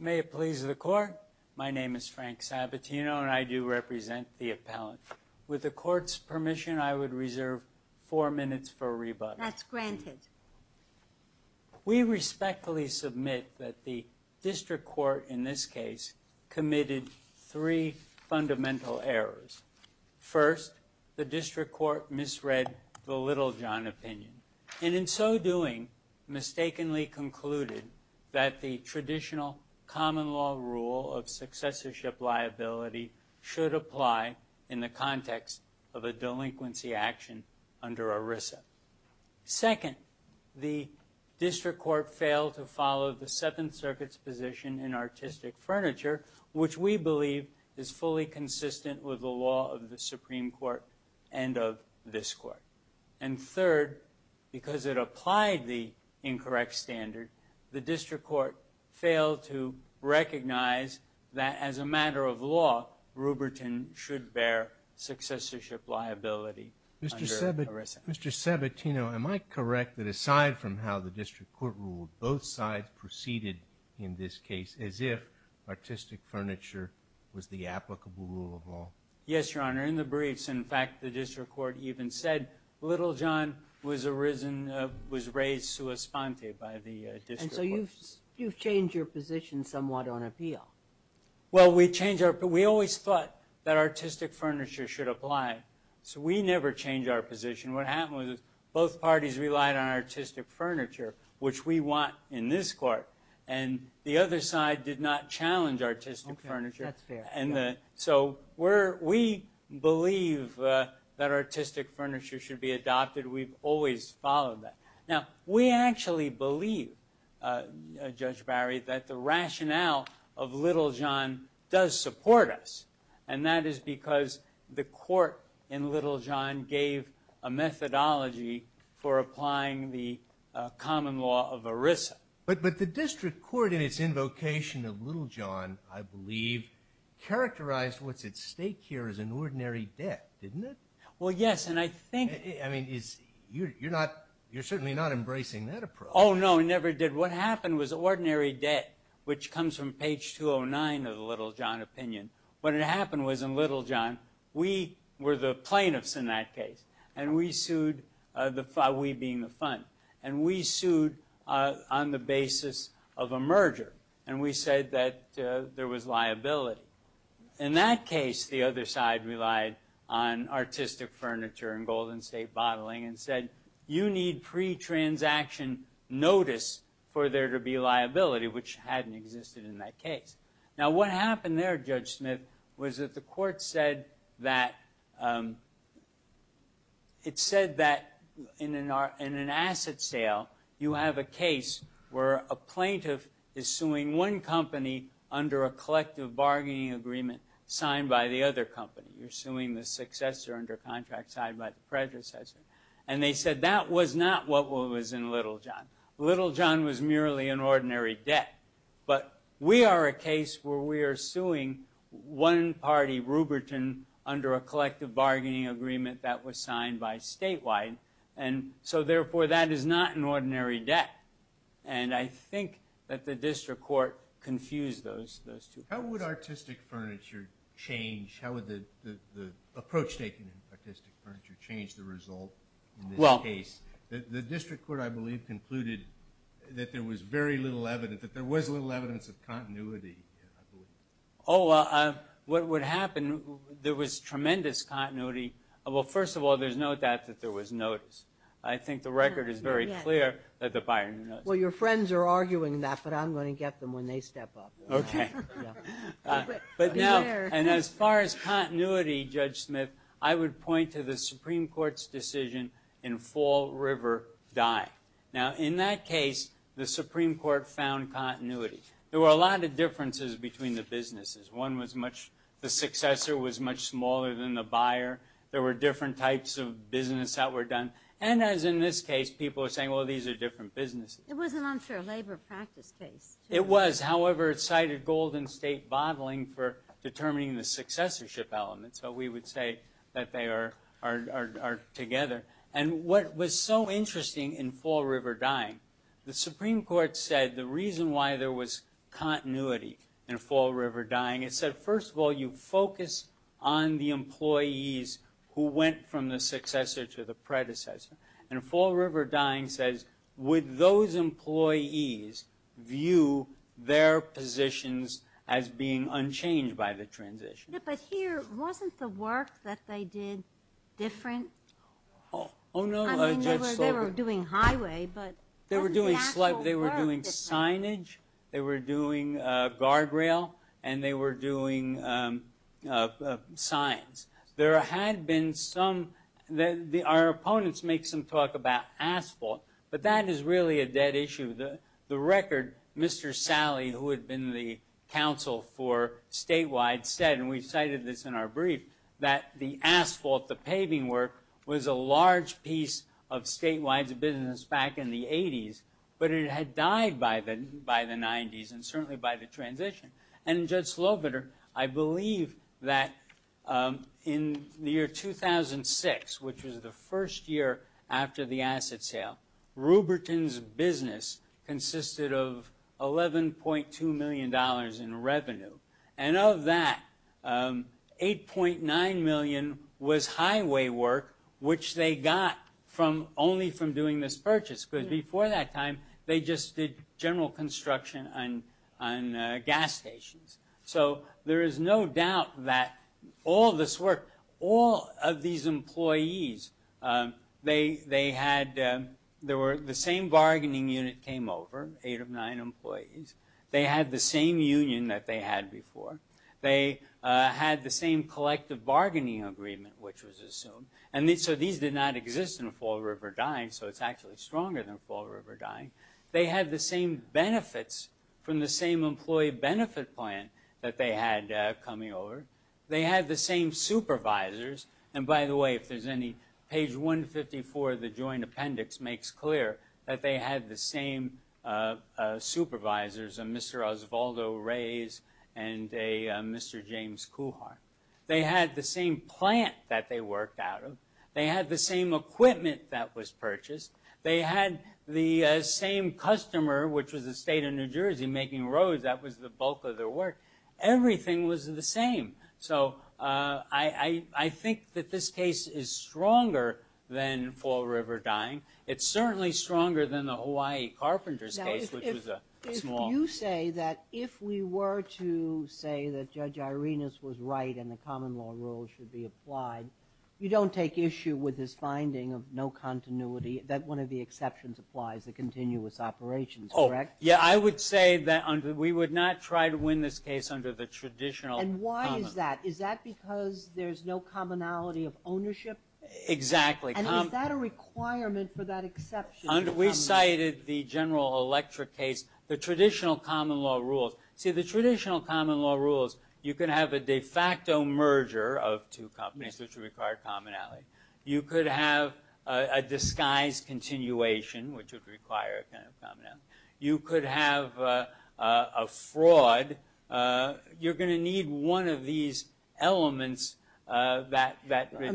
May it please the court, my name is Frank Sabatino and I do represent the appellant. With the court's permission I would reserve four minutes for rebuttal. That's granted. We respectfully submit that the district court in this case committed three fundamental errors. First, the district court misread the Littlejohn opinion and in so doing mistakenly concluded that the traditional common law rule of successorship liability should apply in the context of a delinquency action under ERISA. Second, the district court failed to follow the Seventh Circuit's position in artistic furniture which we believe is fully consistent with the law of the Supreme Court and of this court. And third, because it applied the incorrect standard, the district court failed to recognize that as a matter of law, Ruberton should bear successorship liability under ERISA. Mr. Sabatino, am I correct that aside from how the district court ruled, both sides proceeded in this case as if artistic furniture was the applicable rule of law? Yes, Your Honor. In the briefs, in fact, the district court even said Littlejohn was raised sua sponte by the district court. And so you've changed your position somewhat on appeal. Well, we changed our position. We always thought that artistic furniture should apply. So we never changed our position. What happened was both parties relied on artistic furniture, which we want in this court. And the other side did not challenge artistic furniture. Okay, that's fair. So we believe that artistic furniture should be adopted. We've always followed that. Now, we actually believe, Judge Barry, that the rationale of Littlejohn does support us. And that is because the court in Littlejohn gave a methodology for applying the common law of ERISA. But the district court in its invocation of Littlejohn, I believe, characterized what's at stake here as an ordinary debt, didn't it? Well, yes. You're certainly not embracing that approach. Oh, no, never did. What happened was ordinary debt, which comes from page 209 of the Littlejohn opinion. What had happened was in Littlejohn, we were the plaintiffs in that case. And we sued, we being the fund. And we sued on the basis of a merger. And we said that there was liability. In that case, the other side relied on artistic furniture and Golden State bottling and said, you need pre-transaction notice for there to be liability, which hadn't existed in that case. Now, what happened there, Judge Smith, was that the court said that in an asset sale, you have a case where a plaintiff is suing one company under a collective bargaining agreement signed by the other company. You're suing the successor under contract signed by the predecessor. And they said that was not what was in Littlejohn. Littlejohn was merely an ordinary debt. But we are a case where we are suing one party, Ruberton, under a collective bargaining agreement that was signed by Statewide. And so, therefore, that is not an ordinary debt. And I think that the district court confused those two. How would artistic furniture change? How would the approach taken in artistic furniture change the result in this case? The district court, I believe, concluded that there was very little evidence, that there was little evidence of continuity, I believe. Oh, well, what would happen, there was tremendous continuity. Well, first of all, there's no doubt that there was notice. I think the record is very clear that the buyer knows. Well, your friends are arguing that, but I'm going to get them when they step up. Okay. But now, and as far as continuity, Judge Smith, I would point to the Supreme Court's decision in Fall River Dye. Now, in that case, the Supreme Court found continuity. There were a lot of differences between the businesses. One was much, the successor was much smaller than the buyer. There were different types of business that were done. And as in this case, people are saying, well, these are different businesses. It was an unsure labor practice case. It was. However, it cited golden state bottling for determining the successorship elements. So we would say that they are together. And what was so interesting in Fall River Dye, the Supreme Court said the reason why there was continuity in Fall River Dye, it said, first of all, you focus on the employees who went from the successor to the predecessor. And Fall River Dye says, would those employees view their positions as being unchanged by the transition? But here, wasn't the work that they did different? Oh, no, Judge Slocum. I mean, they were doing highway, but wasn't the actual work different? They were doing signage. They were doing guardrail. And they were doing signs. There had been some, our opponents make some talk about asphalt. But that is really a dead issue. The record, Mr. Sally, who had been the counsel for statewide, said, and we cited this in our brief, that the asphalt, the paving work, was a large piece of statewide business back in the 80s. But it had died by the 90s and certainly by the transition. And Judge Slobiter, I believe that in the year 2006, which was the first year after the asset sale, Ruberton's business consisted of $11.2 million in revenue. And of that, $8.9 million was highway work, which they got only from doing this purchase. Because before that time, they just did general construction on gas stations. So there is no doubt that all this work, all of these employees, they had, there were the same bargaining unit came over, eight of nine employees. They had the same union that they had before. They had the same collective bargaining agreement, which was assumed. And so these did not exist in Fall River Dine, so it's actually stronger than Fall River Dine. They had the same benefits from the same employee benefit plan that they had coming over. They had the same supervisors. And by the way, if there's any, page 154 of the joint appendix makes clear that they had the same supervisors, a Mr. Osvaldo Reyes and a Mr. James Kuhart. They had the same plant that they worked out of. They had the same equipment that was purchased. They had the same customer, which was the state of New Jersey making roads. That was the bulk of their work. Everything was the same. So I think that this case is stronger than Fall River Dine. It's certainly stronger than the Hawaii Carpenters case, which was a small... You say that if we were to say that Judge Irenas was right and the common law rule should be applied, you don't take issue with his finding of no continuity, that one of the exceptions applies, the continuous operations, correct? Yeah, I would say that we would not try to win this case under the traditional... And why is that? Is that because there's no commonality of ownership? Exactly. And is that a requirement for that exception? We cited the General Electric case, the traditional common law rules. See, the traditional common law rules, you can have a de facto merger of two companies which require commonality. You could have a disguise continuation, which would require a kind of commonality. You could have a fraud. You're gonna need one of these elements that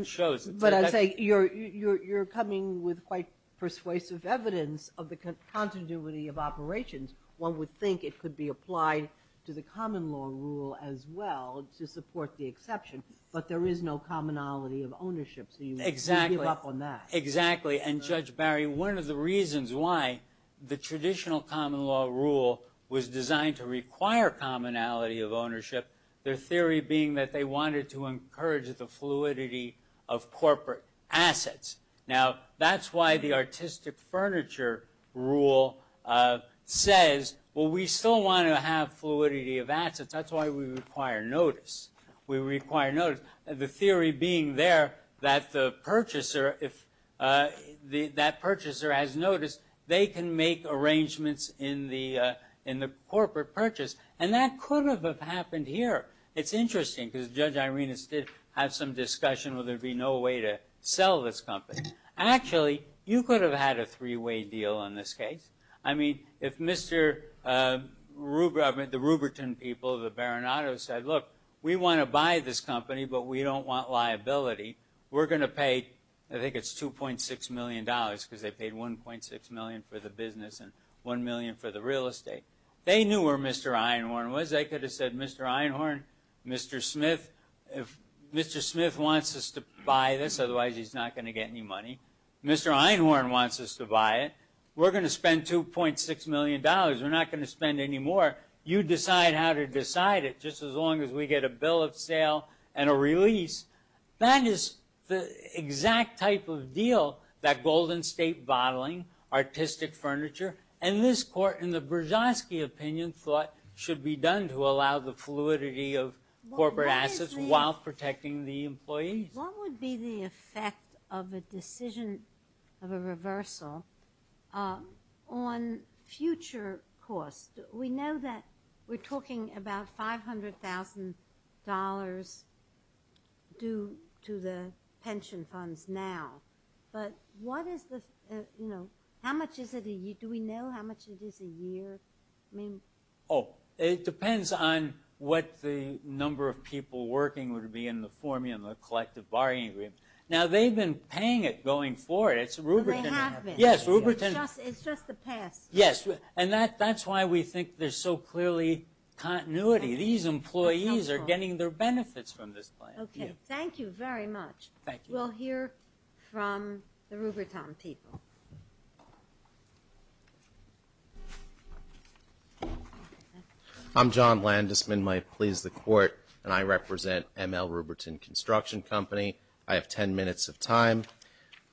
shows it. But I'd say you're coming with quite persuasive evidence of the continuity of operations. One would think it could be applied to the common law rule as well to support the exception, but there is no commonality of ownership. So you would give up on that. Exactly. And Judge Barry, one of the reasons why the traditional common law rule was designed to require commonality of ownership, their theory being that they wanted to encourage the fluidity of corporate assets. Now, that's why the artistic furniture rule says, well, we still want to have fluidity of assets. That's why we require notice. We require notice. The theory being there that the purchaser, that purchaser has notice, they can make arrangements in the corporate purchase. And that could have happened here. It's interesting, because Judge Irenas did have some discussion whether there'd be no way to sell this company. Actually, you could have had a three-way deal in this case. I mean, if Mr. Rueber, I mean, the Rueberton people, the Baranatos said, look, we want to buy this company, but we don't want liability. We're gonna pay, I think it's $2.6 million, because they paid $1.6 million for the business and $1 million for the real estate. They knew where Mr. Einhorn was. They could have said, Mr. Einhorn, Mr. Smith, if Mr. Smith wants us to buy this, otherwise he's not gonna get any money. Mr. Einhorn wants us to buy it. We're gonna spend $2.6 million. We're not gonna spend any more. You decide how to decide it, just as long as we get a bill of sale and a release. That is the exact type of deal that Golden State Bottling, artistic furniture, and this court, in the Brzozowski opinion, thought should be done to allow the fluidity of corporate assets while protecting the employees. What would be the effect of a decision, of a reversal, on future costs? We know that we're talking about $500,000 due to the pension funds now, but what is the, you know, how much is it a year? Do we know how much it is a year? I mean. Oh, it depends on what the number of people working would be in the formula, the collective bargaining agreement. Now, they've been paying it going forward. It's a Ruberton- They have been. Yes, Ruberton- It's just the past. Yes, and that's why we think there's so clearly continuity. These employees are getting their benefits from this plan. Okay, thank you very much. Thank you. We'll hear from the Ruberton people. I'm John Landesman. My plea is the court, and I represent ML Ruberton Construction Company. I have 10 minutes of time.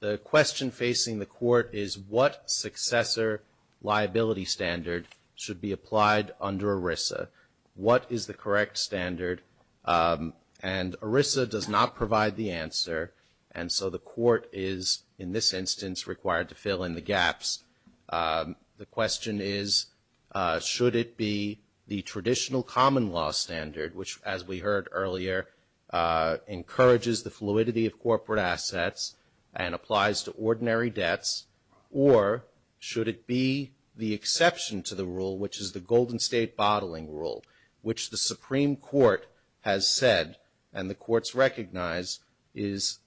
The question facing the court is, what successor liability standard should be applied under ERISA? What is the correct standard? And ERISA does not provide the answer, and so the court is, in this instance, required to fill in the gaps. The question is, should it be the traditional common law standard, which, as we heard earlier, encourages the fluidity of corporate assets and applies to ordinary debts, or should it be the exception to the rule, which is the Golden State Bottling Rule, which the Supreme Court has said, and the courts recognize, is,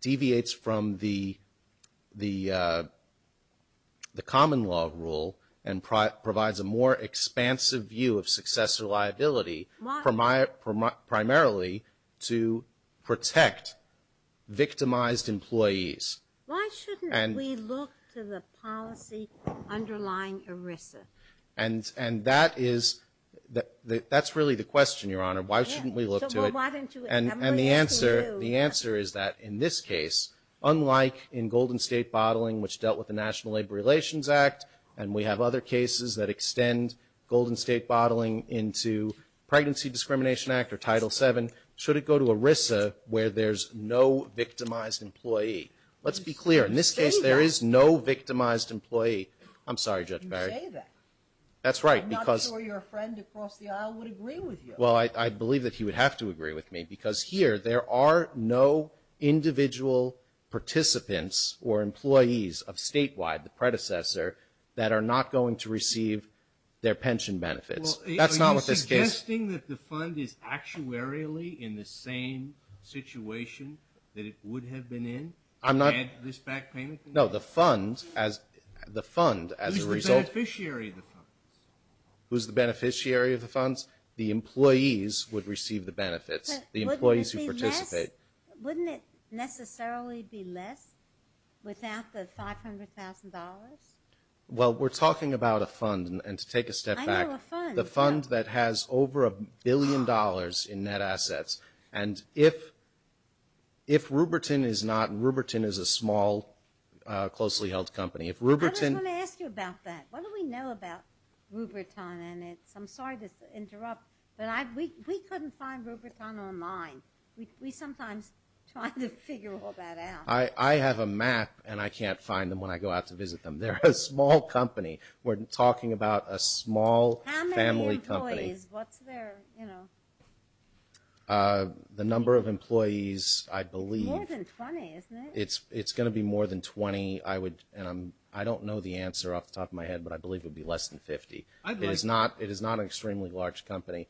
deviates from the common law rule and provides a more expansive view of successor liability, primarily to protect victimized employees. Why shouldn't we look to the policy underlying ERISA? And that is, that's really the question, Your Honor. Why shouldn't we look to it? And the answer is that, in this case, unlike in Golden State Bottling, which dealt with the National Labor Relations Act, and we have other cases that extend Golden State Bottling into Pregnancy Discrimination Act or Title VII, should it go to ERISA, where there's no victimized employee? Let's be clear, in this case, there is no victimized employee. I'm sorry, Judge Barry. You say that. That's right, because... I'm not sure your friend across the aisle would agree with you. Well, I believe that he would have to agree with me, because here, there are no individual participants or employees of Statewide, the predecessor, that are not going to receive their pension benefits. That's not what this case... Are you suggesting that the fund is actuarially in the same situation that it would have been in? I'm not... Had this back payment... No, the fund, as a result... Who's the beneficiary of the funds? Who's the beneficiary of the funds? The employees would receive the benefits, the employees who participate. Wouldn't it necessarily be less without the $500,000? Well, we're talking about a fund, and to take a step back... I know a fund. The fund that has over a billion dollars in net assets, and if Rupertine is not... Rupertine is a small, closely held company. If Rupertine... I just want to ask you about that. What do we know about Rupertine? I'm sorry to interrupt, but we couldn't find Rupertine online. We sometimes try to figure all that out. I have a map, and I can't find them when I go out to visit them. They're a small company. We're talking about a small family company. How many employees? What's their... The number of employees, I believe... More than 20, isn't it? It's going to be more than 20. I don't know the answer off the top of my head, but I believe it would be less than 50. It is not an extremely large company.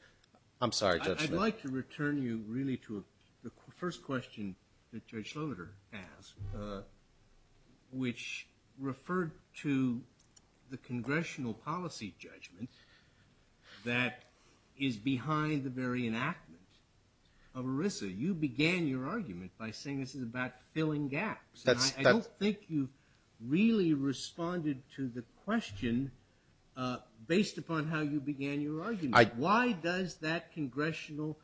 I'm sorry, Judge Schloeter. I'd like to return you really to the first question that Judge Schloeter asked, which referred to the congressional policy judgment that is behind the very enactment of ERISA. You began your argument by saying this is about filling gaps. I don't think you really responded to the question based upon how you began your argument. Why does that congressional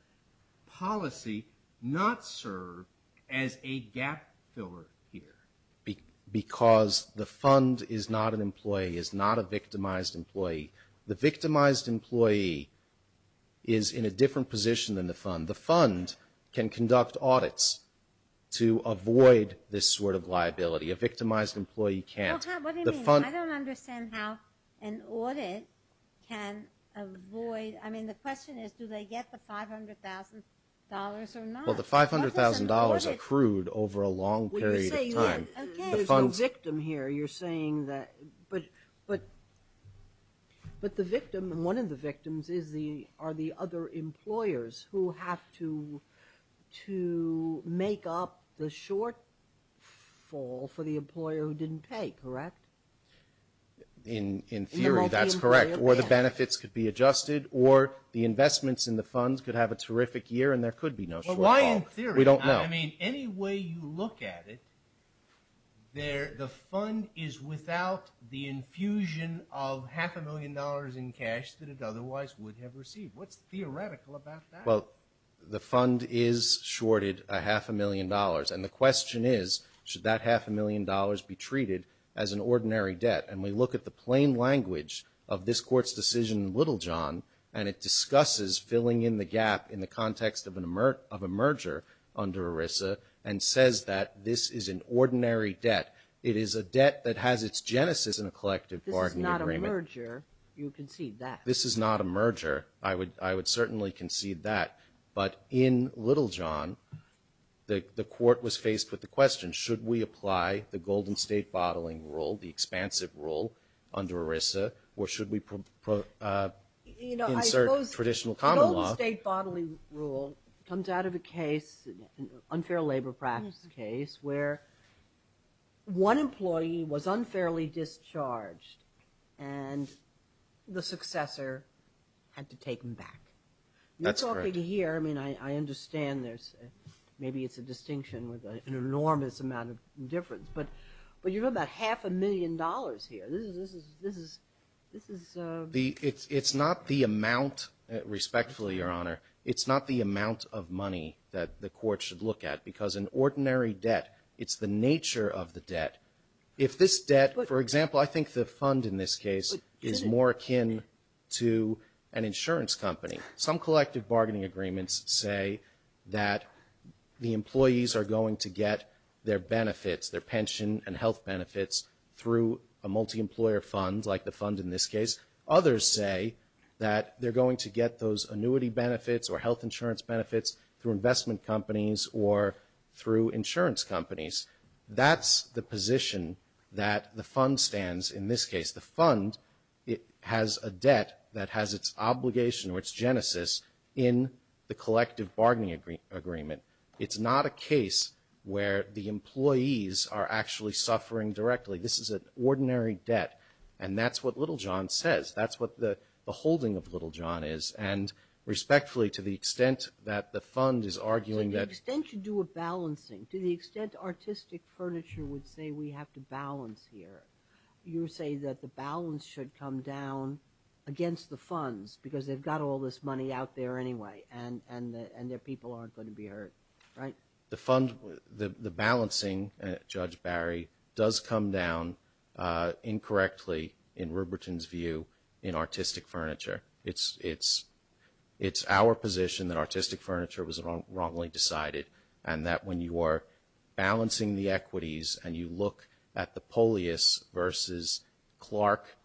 policy not serve as a gap filler here? Because the fund is not an employee, is not a victimized employee. The victimized employee is in a different position than the fund. The fund can conduct audits to avoid this sort of liability. A victimized employee can't. Well, Tom, what do you mean? I don't understand how an audit can avoid, I mean, the question is, do they get the $500,000 or not? Well, the $500,000 accrued over a long period of time. Okay, there's a victim here. You're saying that, but the victim, and one of the victims are the other employers who have to make up the shortfall for the employer who didn't pay, correct? In theory, that's correct. Or the benefits could be adjusted, or the investments in the funds could have a terrific year and there could be no shortfall. Well, why in theory? We don't know. I mean, any way you look at it, the fund is without the infusion of half a million dollars in cash that it otherwise would have received. What's theoretical about that? Well, the fund is shorted a half a million dollars. And the question is, should that half a million dollars be treated as an ordinary debt? And we look at the plain language of this Court's decision in Littlejohn, and it discusses filling in the gap in the context of a merger under ERISA and says that this is an ordinary debt. It is a debt that has its genesis in a collective bargaining agreement. This is not a merger. You concede that. This is not a merger. I would certainly concede that. But in Littlejohn, the Court was faced with the question, should we apply the Golden State Bottling Rule, the expansive rule under ERISA, or should we insert traditional common law? The Golden State Bottling Rule comes out of a case, unfair labor practice case, where one employee was unfairly discharged and the successor had to take him back. That's correct. You're talking here, I mean, I understand there's, maybe it's a distinction with an enormous amount of difference, but you have about half a million dollars here. This is, this is, this is, this is... It's not the amount, respectfully, Your Honor, it's not the amount of money that the Court should look at because an ordinary debt, it's the nature of the debt. If this debt, for example, I think the fund in this case is more akin to an insurance company. Some collective bargaining agreements say that the employees are going to get their benefits, their pension and health benefits through a multi-employer fund, like the fund in this case. Others say that they're going to get those annuity benefits or health insurance benefits through investment companies or through insurance companies. That's the position that the fund stands in this case. The fund, it has a debt that has its obligation or its genesis in the collective bargaining agreement. It's not a case where the employees are actually suffering directly. This is an ordinary debt and that's what Little John says. That's what the holding of Little John is and respectfully, to the extent that the fund is arguing that... To the extent you do a balancing, to the extent artistic furniture would say we have to balance here, you say that the balance should come down against the funds because they've got all this money out there anyway and their people aren't going to be hurt, right? The fund, the balancing, Judge Barry, does come down incorrectly in Rupert's view in artistic furniture. It's our position that artistic furniture was wrongly decided and that when you are balancing the equities and you look at the Polyus versus Clark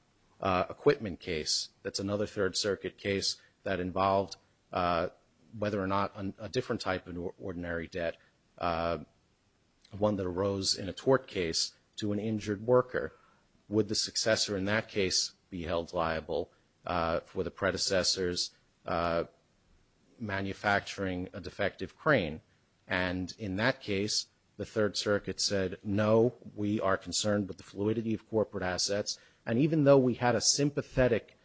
equipment case, that's another Third Circuit case that involved whether or not a different type of ordinary debt, one that arose in a tort case to an injured worker, would the successor in that case be held liable for the predecessors manufacturing a defective crane? And in that case, the Third Circuit said, no, we are concerned with the fluidity of corporate assets and even though we had a sympathetic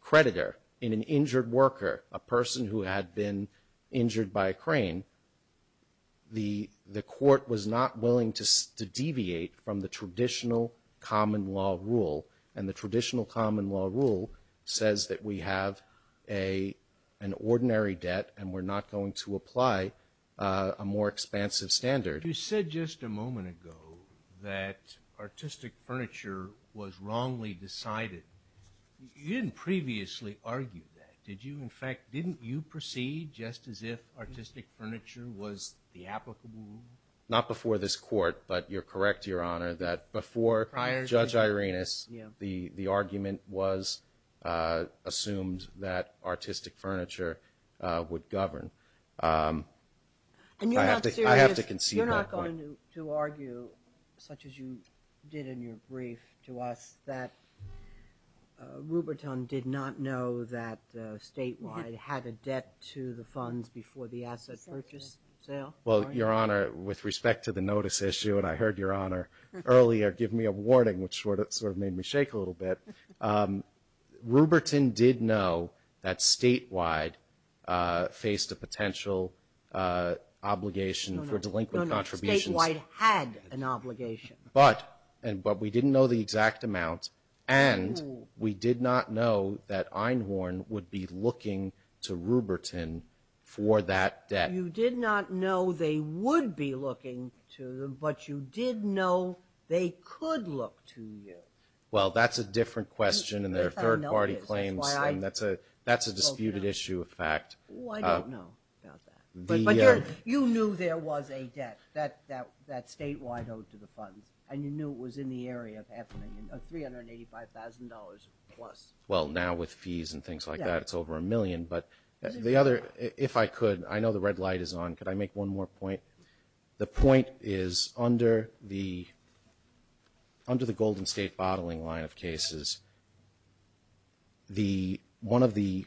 creditor in an injured worker, a person who had been injured by a crane, the court was not willing to deviate from the traditional common law rule and the traditional common law rule says that we have an ordinary debt and we're not going to apply a more expansive standard. You said just a moment ago that artistic furniture was wrongly decided. You didn't previously argue that, did you? In fact, didn't you proceed just as if artistic furniture was the applicable rule? Not before this court, but you're correct, Your Honor, that before Judge Irena's, the argument was assumed that artistic furniture would govern. And you're not serious? I have to concede that point. You're not going to argue, such as you did in your brief to us, that Ruberton did not know that Statewide had a debt to the funds before the asset purchase sale? Well, Your Honor, with respect to the notice issue, and I heard Your Honor earlier give me a warning, which sort of made me shake a little bit, Ruberton did know that Statewide faced a potential obligation for delinquent contributions. Statewide had an obligation. But we didn't know the exact amount, and we did not know that Einhorn would be looking to Ruberton for that debt. You did not know they would be looking to them, but you did know they could look to you. Well, that's a different question in their third-party claims, and that's a disputed issue of fact. Oh, I don't know about that. You knew there was a debt that Statewide owed to the funds, and you knew it was in the area of $385,000-plus. Well, now with fees and things like that, it's over a million, but the other, if I could, I know the red light is on. Could I make one more point? The point is, under the Golden State bottling line of cases, one of the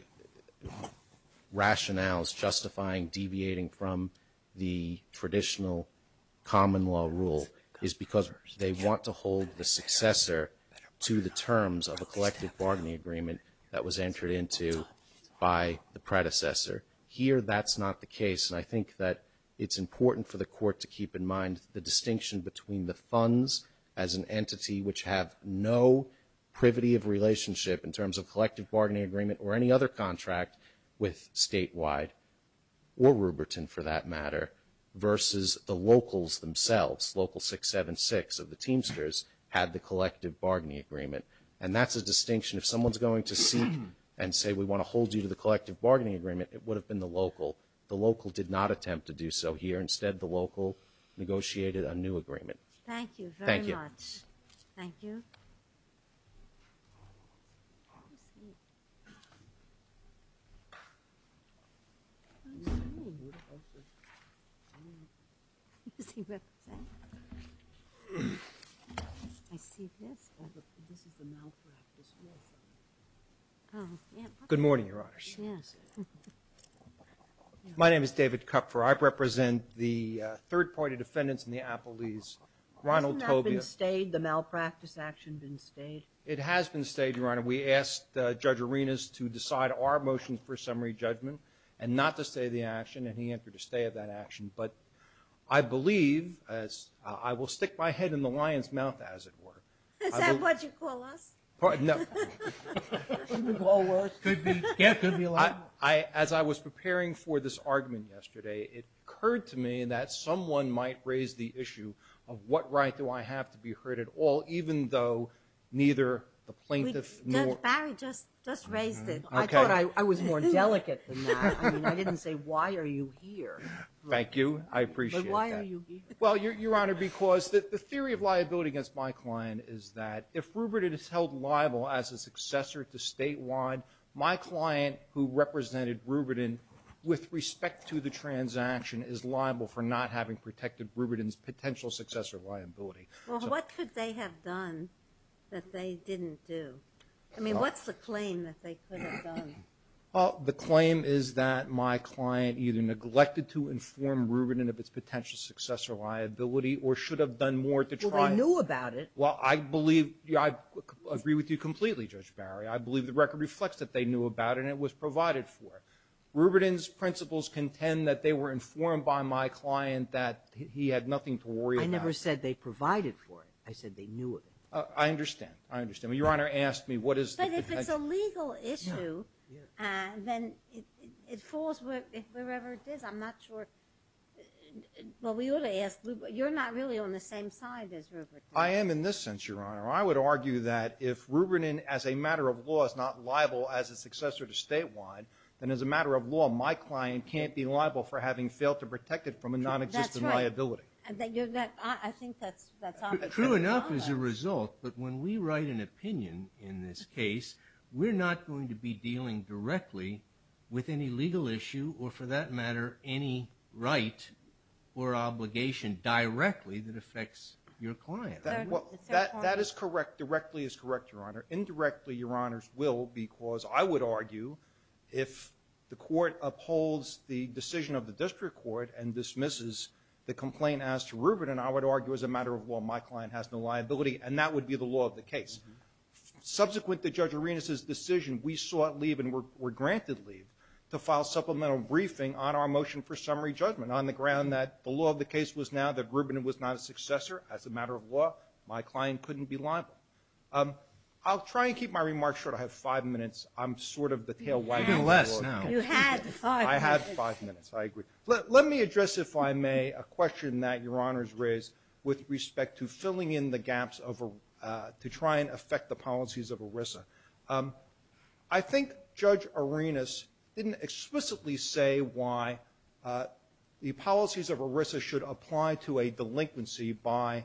rationales justifying deviating from the traditional common law rule is because they want to hold the successor to the terms of a collective bargaining agreement that was entered into by the predecessor. Here, that's not the case, and I think that it's important for the Court to keep in mind the distinction between the funds as an entity which have no privity of relationship in terms of collective bargaining agreement or any other contract with Statewide, or Ruberton, for that matter, versus the locals themselves, Local 676 of the Teamsters had the collective bargaining agreement, and that's a distinction. If someone's going to seek and say, we want to hold you to the collective bargaining agreement, it would have been the local. The local did not attempt to do so here. Instead, the local negotiated a new agreement. Thank you very much. Good morning, Your Honors. My name is David Kupfer. I represent the third-party defendants in the Appellees, Ronald Tobia. Hasn't that been stayed, the malpractice action been stayed? It has been stayed, Your Honor. We asked Judge Arenas to decide our motion for summary judgment and not to stay the action, and he entered a stay of that action, but I believe, as I will stick my head in the lion's mouth, as it were. Is that what you call us? Pardon? No. Could be all words. Could be, yes, could be a lot more. As I was preparing for this argument yesterday, it occurred to me that someone might raise the issue of what right do I have to be heard at all, even though neither the plaintiff nor... Judge Barry just raised it. I thought I was more delicate than that. I mean, I didn't say, why are you here? Thank you. I appreciate that. But why are you here? Well, Your Honor, because the theory of liability against my client is that if Rubidon is held liable as a successor to statewide, my client who represented Rubidon with respect to the transaction is liable for not having protected Rubidon's potential successor liability. Well, what could they have done that they didn't do? I mean, what's the claim that they could have done? Well, the claim is that my client either neglected to inform Rubidon of its potential successor liability or should have done more to try... Well, they knew about it. Well, I believe, I agree with you completely, Judge Barry. I believe the record reflects that they knew about it and it was provided for. Rubidon's principles contend that they were informed by my client that he had nothing to worry about. I never said they provided for it. I said they knew of it. I understand. I understand. Well, Your Honor asked me what is... But if it's a legal issue, then it falls wherever it is. I'm not sure... Well, we ought to ask... You're not really on the same side as Rubidon. I am in this sense, Your Honor. I would argue that if Rubidon, as a matter of law, is not liable as a successor to statewide, then as a matter of law, my client can't be liable for having failed to protect it from a non-existent liability. That's right. I think that's obvious. True enough as a result, but when we write an opinion in this case, we're not going to be dealing directly with any legal issue or for that matter, any right or obligation directly that affects your client. That is correct. Directly is correct, Your Honor. Indirectly, Your Honors, will because I would argue if the court upholds the decision of the district court and dismisses the complaint as to Rubidon, I would argue as a matter of law, my client has no liability and that would be the law of the case. Subsequent to Judge Arenas' decision, we sought leave and were granted leave to file supplemental briefing on our motion for summary judgment on the ground that the law of the case was now that Rubidon was not a successor as a matter of law, my client couldn't be liable. I'll try and keep my remarks short. I have five minutes. I'm sort of the tailwagon. Even less now. You had five minutes. I had five minutes. I agree. Let me address if I may a question that Your Honors raised with respect to filling in the gaps to try and affect the policies of ERISA. I think Judge Arenas didn't explicitly say why the policies of ERISA should apply to a delinquency by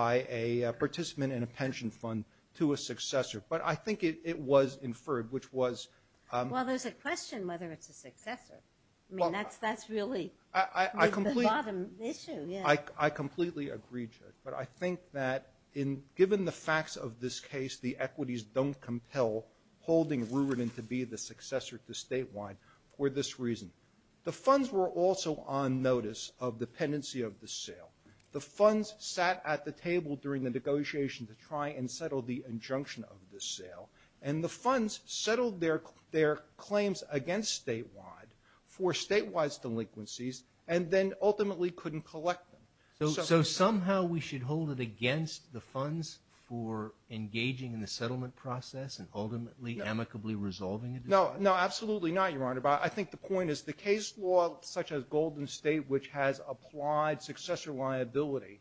a participant in a pension fund to a successor but I think it was inferred which was... Well, there's a question whether it's a successor. I mean, that's really the bottom issue. Yeah. I completely agree, Judge. But I think that in given the facts of this case, the equities don't compel holding Rubidon to be the successor to statewide for this reason. The funds were also on notice of dependency of the sale. The funds sat at the table during the negotiation to try and settle the injunction of the sale and the funds settled their claims against statewide for statewide delinquencies and then ultimately couldn't collect them. So somehow we should hold it against the funds for engaging in the settlement process and ultimately amicably resolving it? No, no, absolutely not, Your Honor. But I think the point is the case law such as Golden State which has applied successor liability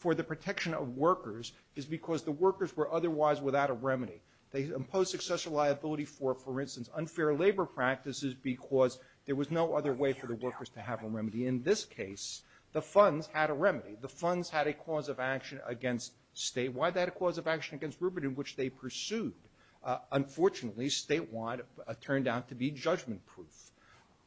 for the protection of workers is because the workers were otherwise without a remedy. They imposed successor liability for, for instance, unfair labor practices because there was no other way for the workers to have a remedy. In this case, the funds had a remedy. The funds had a cause of action against statewide. They had a cause of action against Rubidon which they pursued. Unfortunately, statewide turned out to be judgment-proof.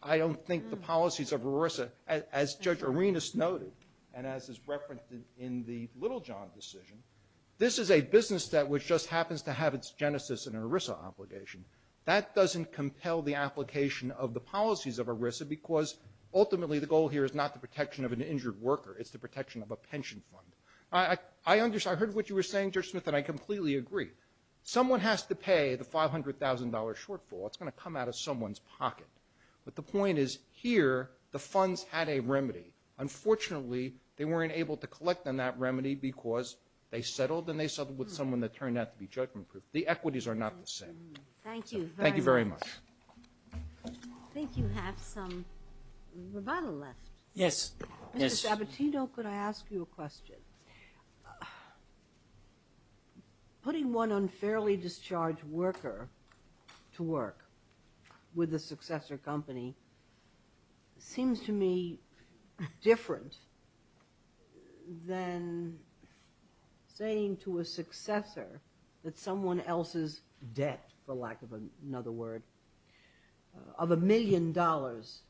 I don't think the policies of RORSA, as Judge Arenas noted and as is referenced in the Littlejohn decision, this is a business that which just happens to have its genesis in an ERISA obligation. That doesn't compel the application of the policies of ERISA because ultimately the goal here is not the protection of an injured worker. It's the protection of a pension fund. I heard what you were saying, Judge Smith, and I completely agree. Someone has to pay the $500,000 shortfall. It's going to come out of someone's pocket. But the point is here the funds had a remedy. Unfortunately, they weren't able to collect on that remedy because they settled and they settled with someone that turned out to be judgment-proof. The equities are not the same. Thank you. Thank you very much. I think you have some revital left. Yes, yes. Mr. Sabatino, could I ask you a question? Putting one unfairly discharged worker to work with a successor company seems to me different than saying to a successor that someone else's debt, for lack of another word, of a million dollars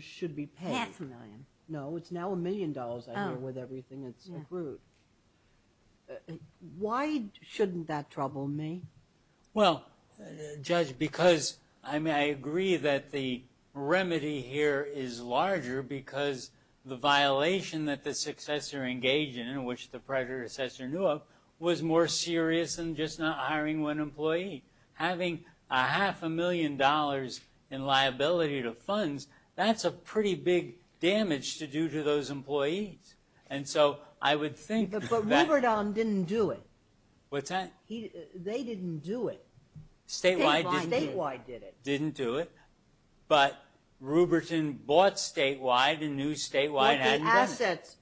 should be paid. That's a million. No, it's now a million dollars I hear with everything that's accrued. Why shouldn't that trouble me? Well, Judge, because I agree that the remedy here is larger because the violation that the successor engaged in, in which the predecessor knew of, was more serious than just not hiring one employee. Having a half a million dollars in liability to funds, that's a pretty big damage to do to those employees. And so I would think that- But Rupert on didn't do it. What's that? They didn't do it. Statewide didn't do it. Statewide did it. Didn't do it. But Rupert bought statewide and knew statewide hadn't done it.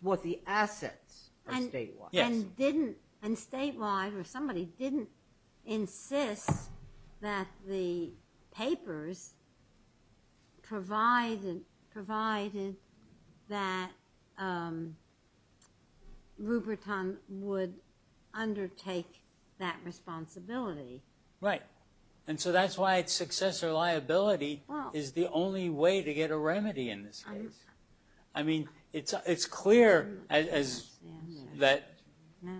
What the assets are statewide. And didn't, and statewide, or somebody didn't insist that the papers provided that Rupert would undertake that responsibility. Right. And so that's why it's successor liability is the only way to get a remedy in this case. I mean, it's clear that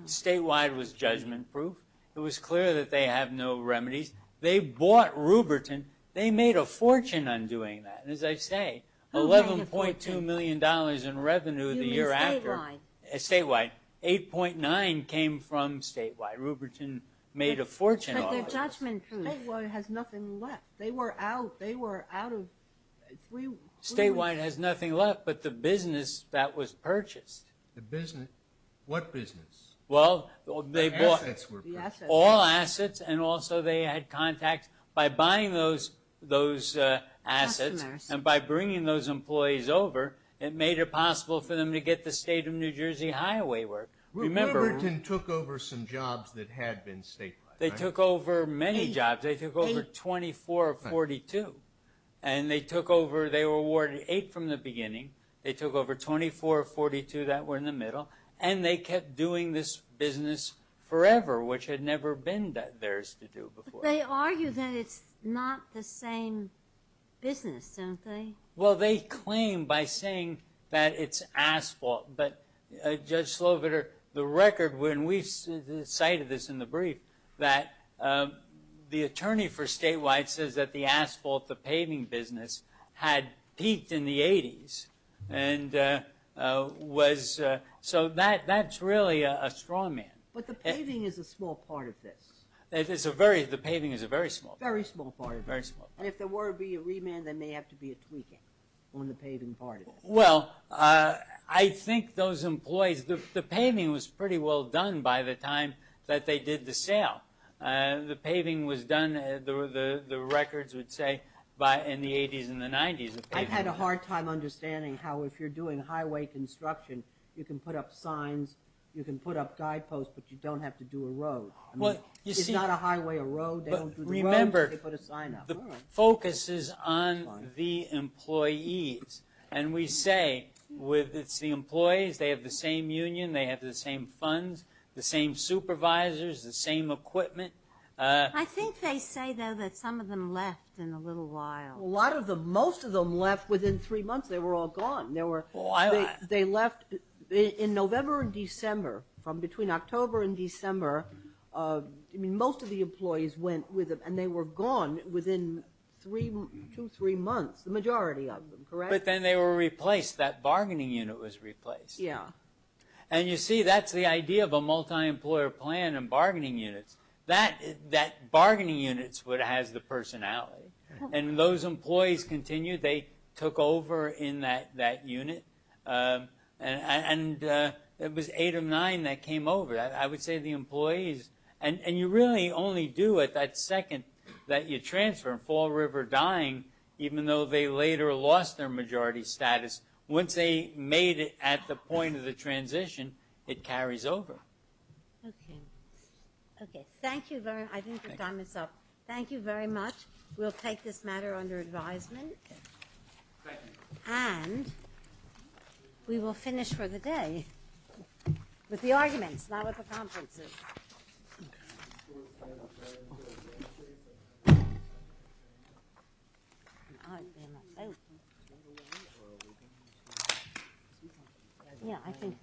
statewide was judgment proof. It was clear that they have no remedies. They bought Rupert, they made a fortune on doing that. And as I say, $11.2 million in revenue the year after. You mean statewide? Statewide. 8.9 came from statewide. Rupert made a fortune. But they're judgment proof. Statewide has nothing left. They were out. They were out of, we. Statewide has nothing left, but the business that was purchased. The business, what business? Well, they bought. The assets were purchased. All assets. And also they had contacts by buying those assets. And by bringing those employees over, it made it possible for them to get the state of New Jersey highway work. Rupert took over some jobs that had been statewide. They took over many jobs. They took over 24 of 42. And they took over. They were awarded eight from the beginning. They took over 24 of 42 that were in the middle. And they kept doing this business forever, which had never been theirs to do before. They argue that it's not the same business, don't they? Well, they claim by saying that it's asphalt. But Judge Slobiter, the record when we cited this in the brief, that the attorney for statewide says that the asphalt, the paving business, had peaked in the 80s. And so that's really a straw man. But the paving is a small part of this. The paving is a very small part. Very small part of this. And if there were to be a remand, there may have to be a tweaking on the paving part of this. Well, I think those employees, the paving was pretty well done by the time that they did the sale. The paving was done, the records would say, by in the 80s and the 90s. I've had a hard time understanding how if you're doing highway construction, you can put up signs, you can put up guideposts, but you don't have to do a road. It's not a highway, a road. They don't do the road, but they put a sign up. The focus is on the employees. And we say with the employees, they have the same union, they have the same funds. The same supervisors, the same equipment. I think they say though that some of them left in a little while. A lot of them, most of them left within three months. They were all gone. They left in November and December from between October and December. Most of the employees went with them and they were gone within two, three months. The majority of them, correct? But then they were replaced. That bargaining unit was replaced. Yeah. And you see, that's the idea of a multi-employer plan and bargaining units. That bargaining unit has the personality. And those employees continued. They took over in that unit. And it was eight of nine that came over. I would say the employees, and you really only do it that second that you transfer. Fall River dying, even though they later lost their majority status. Once they made it at the point of the transition, it carries over. Okay. Okay. Thank you very much. I think the time is up. Thank you very much. We'll take this matter under advisement. And we will finish for the day with the arguments, not with the conferences. Yeah, I think we do.